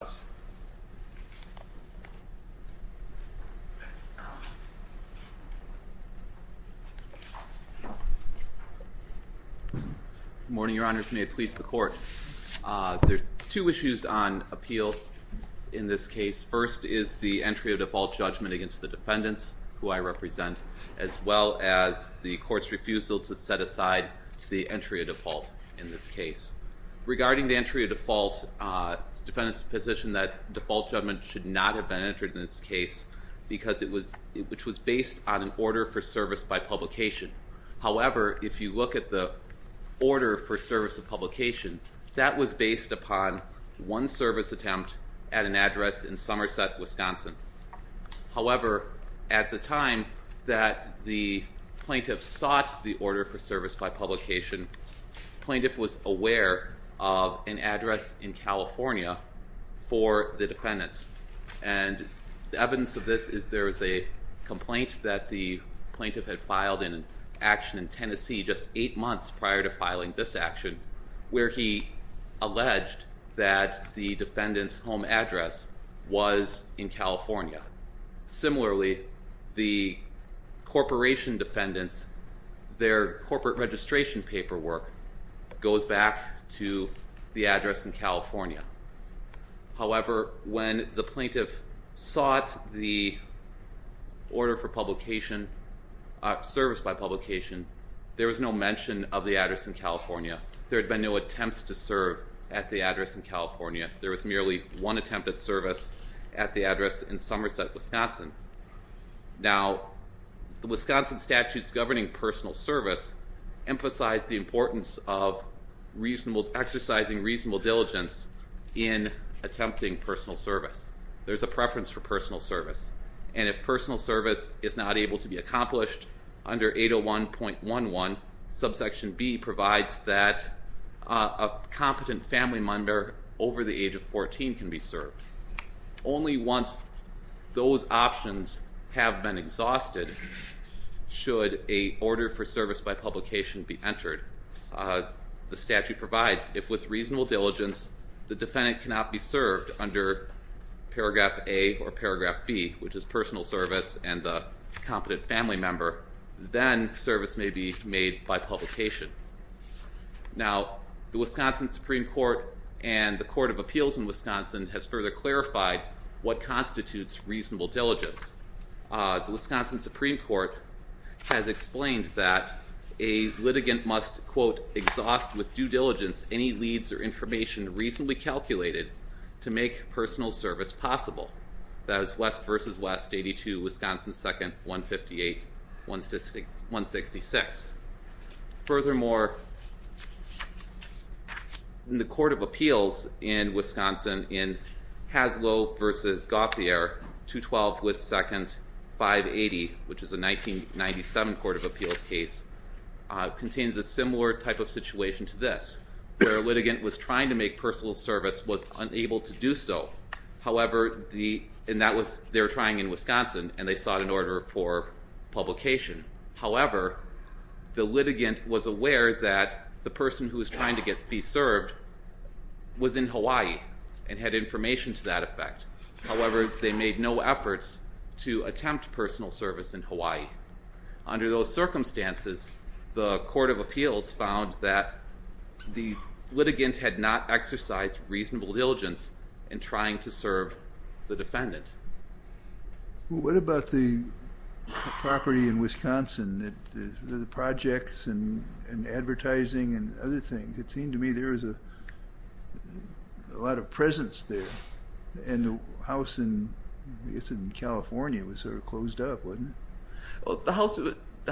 Good morning, your honors. May it please the court. There's two issues on appeal in this case. First is the entry of default judgment against the defendants, who I represent, as well as the court's refusal to set aside the entry of default in this case. Regarding the position that default judgment should not have been entered in this case because it was, which was based on an order for service by publication. However, if you look at the order for service of publication, that was based upon one service attempt at an address in Somerset, Wisconsin. However, at the time that the plaintiff sought the order for service by publication, the plaintiff was aware of an address in California for the defendants. And the evidence of this is there was a complaint that the plaintiff had filed an action in Tennessee just eight months prior to filing this action, where he alleged that the defendant's home address was in California. Similarly, the corporation defendants, their corporate registration paperwork goes back to the address in California. However, when the plaintiff sought the order for publication, service by publication, there was no mention of the address in California. There had been no attempts to serve at the address in California. There was merely one attempt at service at the Somerset, Wisconsin. Now, the Wisconsin statutes governing personal service emphasize the importance of reasonable, exercising reasonable diligence in attempting personal service. There's a preference for personal service. And if personal service is not able to be accomplished under 801.11, subsection B provides that a competent family member over the age of 14 can be served. Only once those options have been exhausted should a order for service by publication be entered. The statute provides if with reasonable diligence the defendant cannot be served under paragraph A or paragraph B, which is personal service and the competent family member, then service may be made by publication. Now, the Wisconsin Supreme Court and the Court of Appeals in Wisconsin has further clarified what constitutes reasonable diligence. The Wisconsin Supreme Court has explained that a litigant must, quote, exhaust with due diligence any leads or information reasonably calculated to make personal service possible. That is West v. West 82, Wisconsin 2, 158, 166. Furthermore, the Court of Appeals in Wisconsin in Haslow v. Gauthier, 212 West 2, 580, which is a 1997 Court of Appeals case, contains a similar type of situation to this, where a litigant was trying to make personal service, was unable to do so. However, and that was, they were trying in Wisconsin, and they the litigant was aware that the person who was trying to be served was in Hawaii and had information to that effect. However, they made no efforts to attempt personal service in Hawaii. Under those circumstances, the Court of Appeals found that the litigant had not exercised reasonable diligence in trying to serve the defendant. What about the property in Wisconsin, the projects and advertising and other things? It seemed to me there was a lot of presence there, and the house in California was sort of closed up, wasn't it? Well, the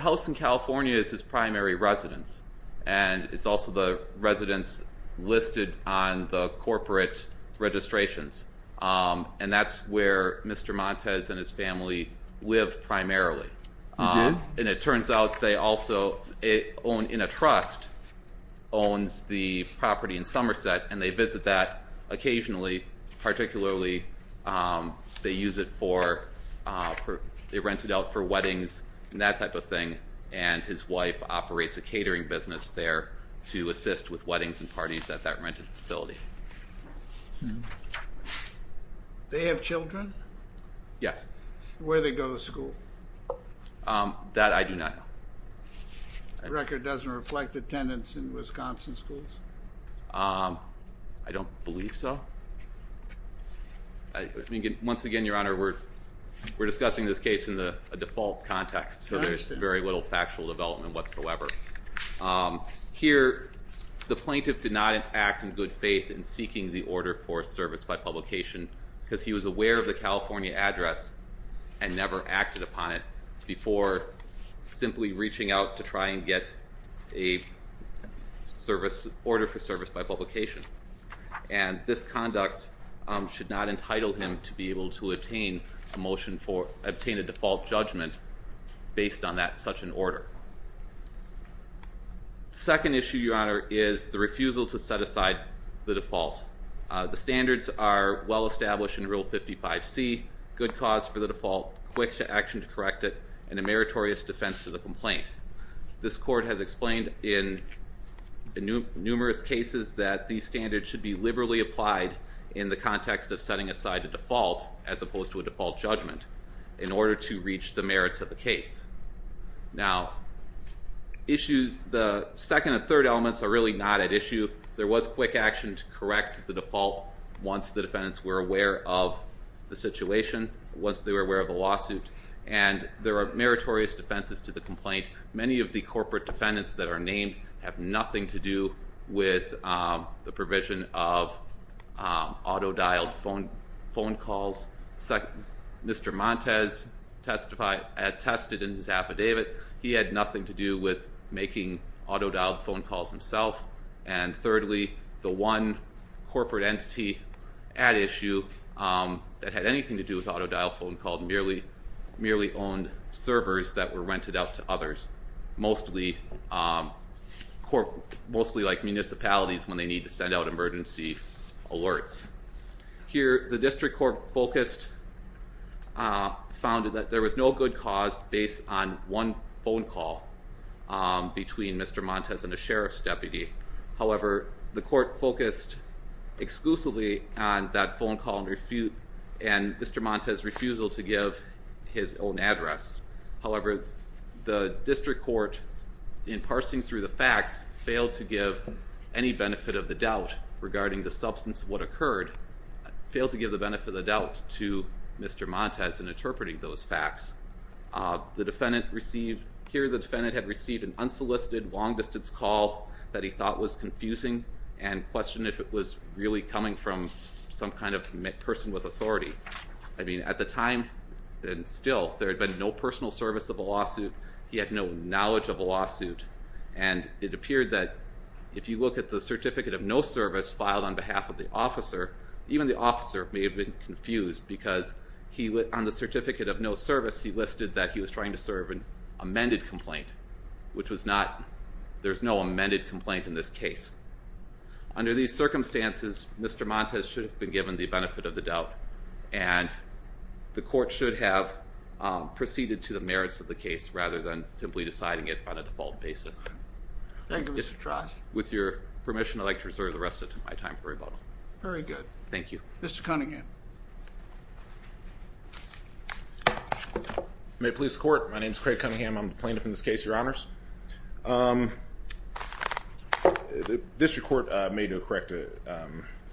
house in California is his primary residence, and it's also the residence listed on the corporate registrations. And that's where Mr. Montes and his family live primarily. And it turns out they also own, in a trust, owns the property in Somerset, and they visit that occasionally, particularly they use it for, they rent it out for weddings and that type of thing. And his wife operates a catering business there to assist with weddings and parties at that rented facility. They have children? Yes. Where they go to school? That I do not know. Record doesn't reflect attendance in Wisconsin schools? I don't believe so. I mean, once again, Your Honor, we're discussing this case in a default context, so there's very little factual development whatsoever. Here, the plaintiff did not act in good faith in seeking the order for service by publication because he was aware of the California address and never acted upon it before simply reaching out to try and get a service, order for service by publication. And this conduct should not obtain a default judgment based on that such an order. Second issue, Your Honor, is the refusal to set aside the default. The standards are well established in Rule 55C, good cause for the default, quick action to correct it, and a meritorious defense to the complaint. This court has explained in numerous cases that these standards should be liberally applied in the context of setting aside a default as opposed to a default judgment in order to reach the merits of the case. Now, issues, the second and third elements are really not at issue. There was quick action to correct the default once the defendants were aware of the situation, once they were aware of the lawsuit, and there are meritorious defenses to the complaint. Many of the corporate defendants that are named have nothing to do with the Mr. Montes had tested in his affidavit. He had nothing to do with making auto-dialed phone calls himself. And thirdly, the one corporate entity at issue that had anything to do with auto-dial phone call merely owned servers that were rented out to others, mostly like municipalities when they need to send out emergency alerts. Here, the district court focused, found that there was no good cause based on one phone call between Mr. Montes and a sheriff's deputy. However, the court focused exclusively on that phone call and Mr. Montes' refusal to give his own address. However, the district court, in parsing through the facts, failed to give any benefit of the doubt regarding the substance of what occurred, failed to give the benefit of the doubt to Mr. Montes in interpreting those facts. The defendant received, here the defendant had received an unsolicited long-distance call that he thought was confusing and questioned if it was really coming from some kind of person with authority. I mean, at the time, and still, there had been no personal service of a lawsuit. He had no knowledge of a lawsuit. And it appeared that if you look at the certificate of no service filed on behalf of the officer, even the officer may have been confused because he, on the certificate of no service, he listed that he was trying to serve an amended complaint, which was not, there's no amended complaint in this case. Under these circumstances, Mr. Montes should have been given the benefit of the doubt and the court should have proceeded to the merits of the case rather than simply deciding it on a default basis. Thank you, Mr. Trost. With your permission, I'd like to reserve the rest of my time for rebuttal. Very good. Thank you. Mr. Cunningham. May it please the court, my name is Craig Cunningham. I'm the plaintiff in this case, your honors. The district court made the correct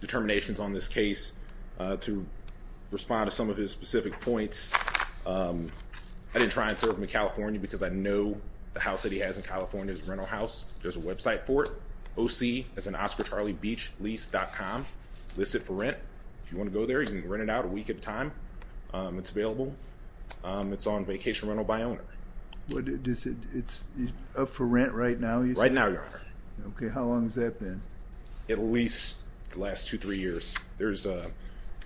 determinations on this case to respond to some of his specific points. I didn't try and serve him in California because I know the house that he has in California is a rental house. There's a website for it, oc, that's an oscarcharliebeachlease.com, listed for rent. If you want to go there, you can rent it out a week at a time. It's available. It's on vacation rental by owner. It's up for rent right now? Right now, your honor. Okay, how long has that been? At least the last two, three years. There's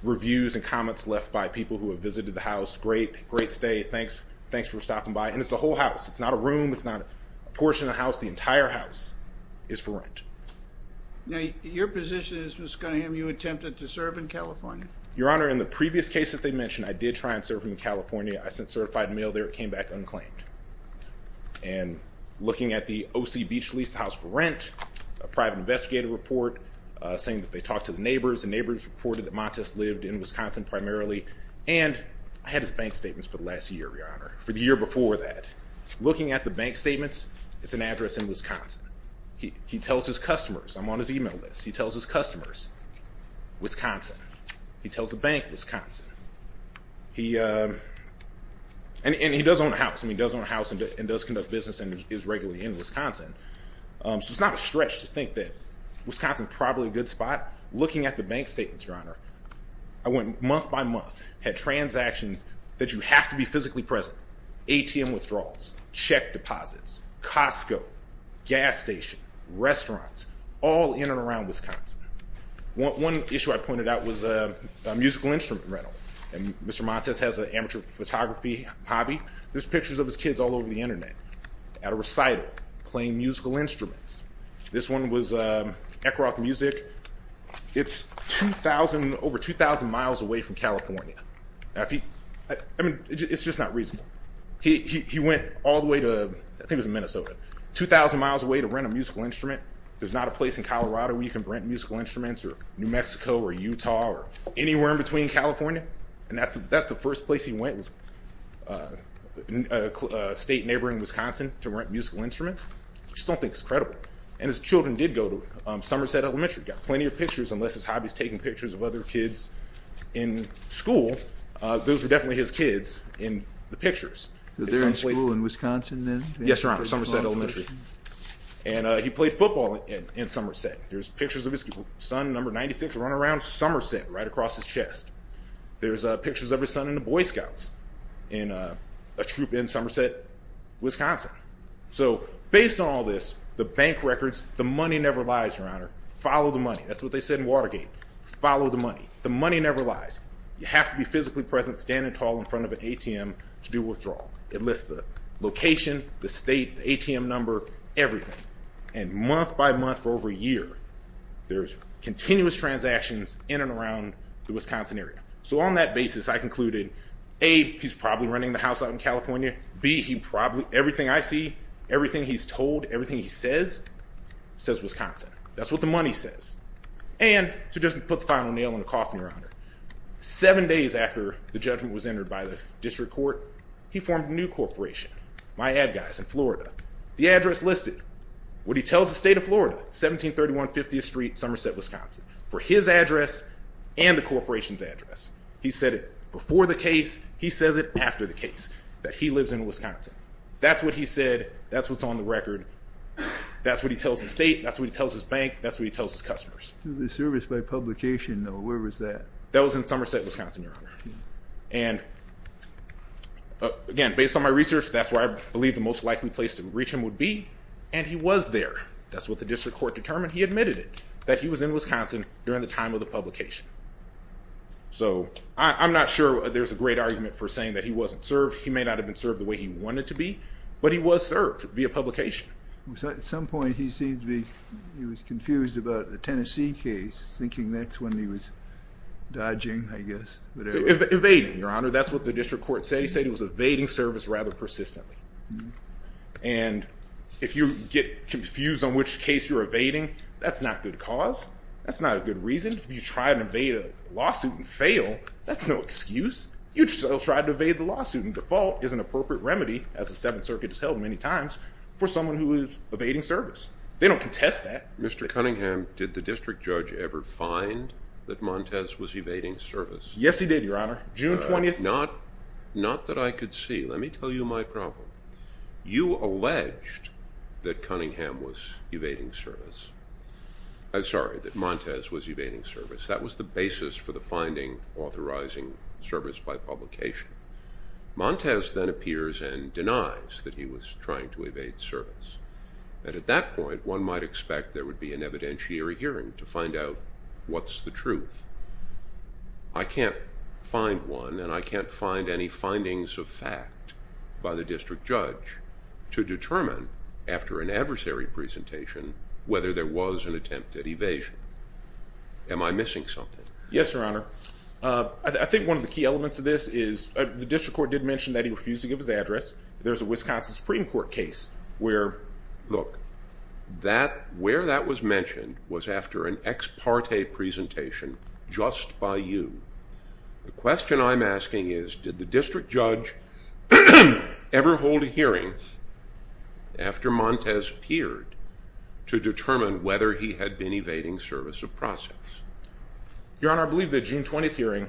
reviews and comments left by people who have visited the house. Great, great stay. Thanks for stopping by. And it's a whole house. It's not a room. It's not a portion of the house. The entire house is for rent. Now, your position is, Mr. Cunningham, you attempted to serve in California? Your honor, in the previous case that they mentioned, I did try and serve him in California. I sent certified mail there. It came back unclaimed. And looking at the O.C. Beach Lease House for Rent, a private investigator report saying that they talked to the neighbors. The neighbors reported that Montes lived in Wisconsin primarily. And I had his bank statements for the last year, your honor, for the year before that. Looking at the bank statements, it's an address in Wisconsin. He tells his customers, I'm on his email list. He tells his customers, Wisconsin. He tells the bank, Wisconsin. And he does own a house. And he does own a house and does conduct business and is regularly in Wisconsin. So it's not a stretch to think that Wisconsin is probably a good spot. Looking at the bank statements, your honor, I went month by month, had transactions that you have to be physically present. ATM withdrawals, check deposits, Costco, gas station, restaurants, all in and around Wisconsin. One issue I pointed out was a musical instrument rental. And Mr. Montes has an amateur photography hobby. There's pictures of his kids all over the internet at a recital playing musical instruments. This one was Eckgroth Music. It's over 2,000 miles away from California. If he, I mean, it's just not reasonable. He went all the way to, I think it was Minnesota, 2,000 miles away to rent a musical instrument. There's not a place in Colorado where you can rent musical instruments or New Mexico or Utah or anywhere in between California. And that's the first place he went was a state neighboring Wisconsin to rent musical instruments. I just don't think it's credible. And his children did go to Somerset Elementary. Got plenty of pictures unless his hobby is taking pictures of other kids in school. Those were definitely his kids in the pictures. They're in school in Wisconsin then? Yes, your honor, Somerset Elementary. And he played football in Somerset. There's pictures of his son, number 96, running around Somerset right across his chest. There's pictures of his son in the Boy Scouts in Somerset, Wisconsin. So based on all this, the bank records, the money never lies, your honor. Follow the money. That's what they said in Watergate. Follow the money. The money never lies. You have to be physically present, standing tall in front of an ATM to do withdrawal. It lists the location, the state, the ATM number, everything. And month by month for over a year, there's continuous transactions in and around the Wisconsin area. So on that basis, I concluded, A, he's probably renting the house out in California. B, he probably, everything I see, everything he's told, everything he says, says Wisconsin. That's what the money says. And to just put the final nail in the coffin, your honor, seven days after the judgment was entered by the district court, he formed a new corporation, My Ad Guys in Florida. The address listed, what he tells the state of Florida, 1731 50th Street, Somerset, Wisconsin, for his address and the corporation's address. He said it before the case. He says it after the case that he lives in Wisconsin. That's what he said. That's what's on the record. That's what he tells the state. That's what he tells his bank. That's what he tells his customers. The service by publication, though, where was that? That was in Somerset, Wisconsin, your honor. And again, based on my research, that's where I believe the most likely place to reach him would be. And he was there. That's what the district court determined. He admitted it, that he was in Wisconsin during the time of the publication. So I'm not sure there's a great argument for saying that he wasn't served. He may not have been served the way he wanted to be, but he was served via publication. At some point, he seemed to be, he was confused about the Tennessee case, thinking that's when he was dodging, I guess, whatever. Evading, your honor. That's what the district court said. He said he was evading service rather persistently. And if you get confused on which case you're evading, that's not good cause. That's not a good reason. If you try and evade a lawsuit and fail, that's no excuse. You just tried to evade the lawsuit. And default is an appropriate remedy, as the Seventh Circuit has held many times, for someone who is evading service. They don't contest that. Mr. Cunningham, did the district judge ever find that Montez was evading service? Yes, he did, your honor. June 20th. Not that I could see. Let me tell you my problem. You alleged that Cunningham was evading service. I'm sorry, that Montez was evading service. That was the basis for the finding authorizing service by publication. Montez then appears and denies that he was trying to evade service. And at that point, one might expect there would be an evidentiary hearing to find out what's the truth. I can't find one, and I can't find any findings of fact by the district judge to determine, after an adversary presentation, whether there was an attempt at evasion. Am I missing something? Yes, your honor. I think one of the key elements of this is the district court did mention that he refused to give his address. There's a Wisconsin Supreme Court case where... Look, where that was mentioned was after an ex parte presentation just by you. The question I'm hearing is, after Montez appeared to determine whether he had been evading service of process. Your honor, I believe the June 20th hearing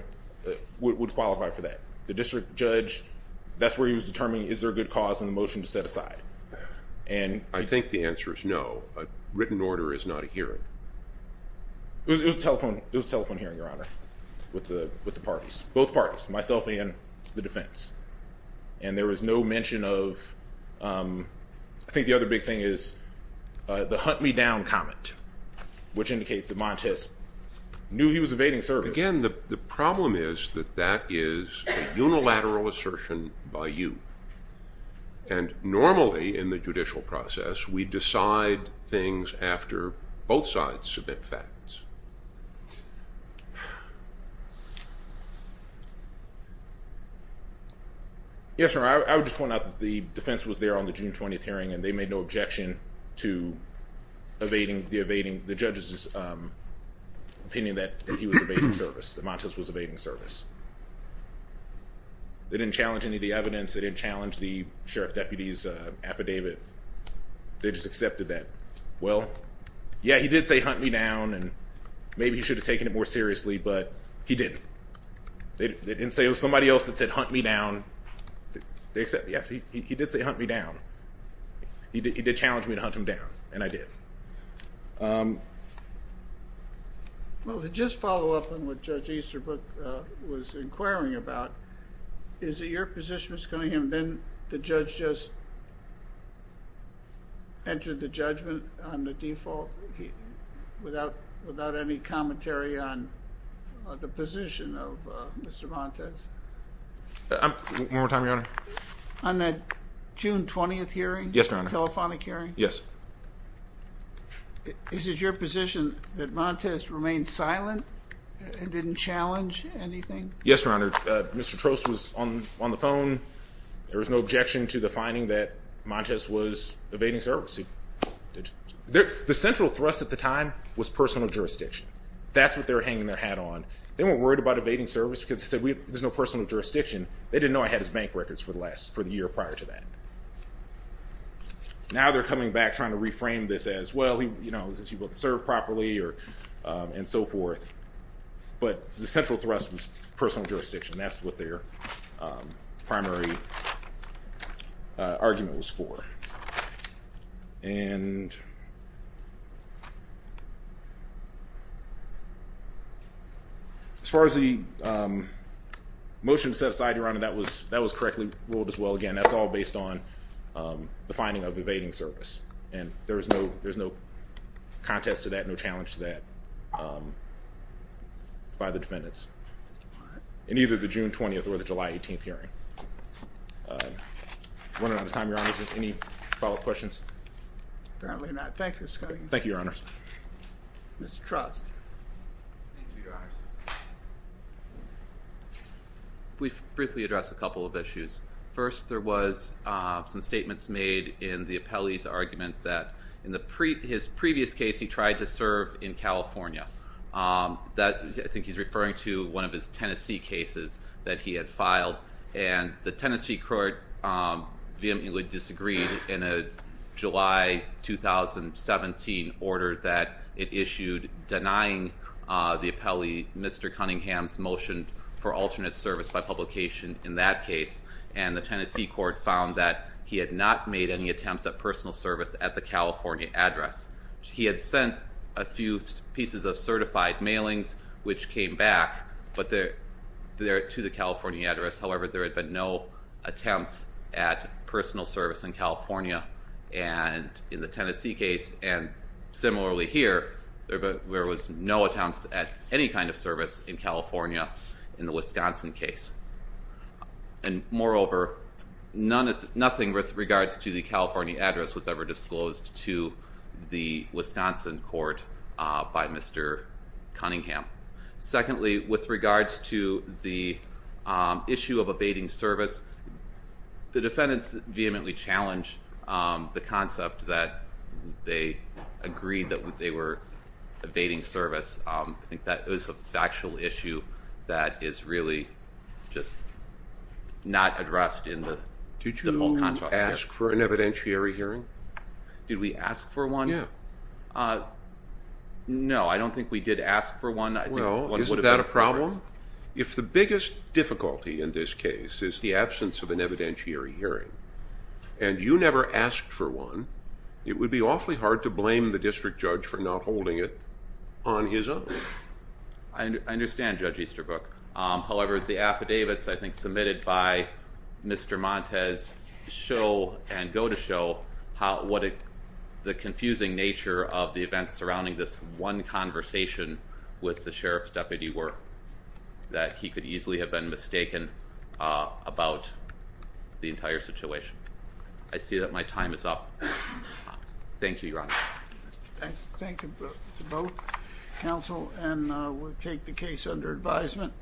would qualify for that. The district judge, that's where he was determining, is there a good cause in the motion to set aside? I think the answer is no. A written order is not a hearing. It was a telephone hearing, your honor, with the parties, both parties, myself and the defense. And there was no mention of... I think the other big thing is the hunt me down comment, which indicates that Montez knew he was evading service. Again, the problem is that that is a unilateral assertion by you. And normally in the judicial process, we decide things after both sides submit facts. Yes, your honor, I would just point out that the defense was there on the June 20th hearing and they made no objection to the judges' opinion that he was evading service, that Montez was evading the service. They didn't challenge the sheriff deputy's affidavit. They just accepted that, well, yeah, he did say hunt me down, and maybe he should have taken it more seriously, but he didn't. It was somebody else that said hunt me down. Yes, he did say hunt me down. He did challenge me to hunt him down, and I did. Well, to just follow up on what Judge Easterbrook was inquiring about, is it your position that's the judge just entered the judgment on the default without any commentary on the position of Mr. Montez? One more time, your honor. On that June 20th hearing? Yes, your honor. Telephonic hearing? Yes. Is it your position that Montez remained silent and didn't challenge anything? Yes, your honor. Mr. Trost was on the phone. There was no objection to the finding that Montez was evading service. The central thrust at the time was personal jurisdiction. That's what they were hanging their hat on. They weren't worried about evading service because they said, there's no personal jurisdiction. They didn't know I had his bank records for the year prior to that. Now they're coming back trying to reframe this as, well, he doesn't serve properly and so forth, but the central thrust was personal jurisdiction. That's what their primary argument was for. As far as the motion set aside, your honor, that was correctly ruled as well. Again, that's all based on the finding of evading service, and there's no contest to that, no challenge to that by the defendants in either the June 20th or the July 18th hearing. We're running out of time, your honors. Any follow-up questions? Apparently not. Thank you, Mr. Cunningham. Thank you, your honors. Mr. Trost. We've briefly addressed a couple of issues. First, there was some statements made in the California. I think he's referring to one of his Tennessee cases that he had filed. And the Tennessee court vehemently disagreed in a July 2017 order that it issued denying the appellee Mr. Cunningham's motion for alternate service by publication in that case. And the Tennessee court found that he had not made any attempts at personal service at the California address. He had sent a few pieces of certified mailings, which came back to the California address. However, there had been no attempts at personal service in California in the Tennessee case. And similarly here, there was no attempts at any kind of service in California in the Wisconsin case. And moreover, nothing with regards to the California address was ever disclosed to the Wisconsin court by Mr. Cunningham. Secondly, with regards to the issue of evading service, the defendants vehemently challenged the concept that they agreed that they were evading service. I think that is a factual issue that is really just not addressed in the whole contract. Did you ask for an evidentiary hearing? Did we ask for one? No, I don't think we did ask for one. Is that a problem? If the biggest difficulty in this case is the absence of an evidentiary hearing, and you never asked for one, it would be awfully hard to I understand, Judge Easterbrook. However, the affidavits I think submitted by Mr. Montes show and go to show what the confusing nature of the events surrounding this one conversation with the sheriff's deputy were, that he could easily have been mistaken about the entire situation. I see that my time is up. Thank you, Your Honor. Thank you to both counsel, and we'll take the case under advisement.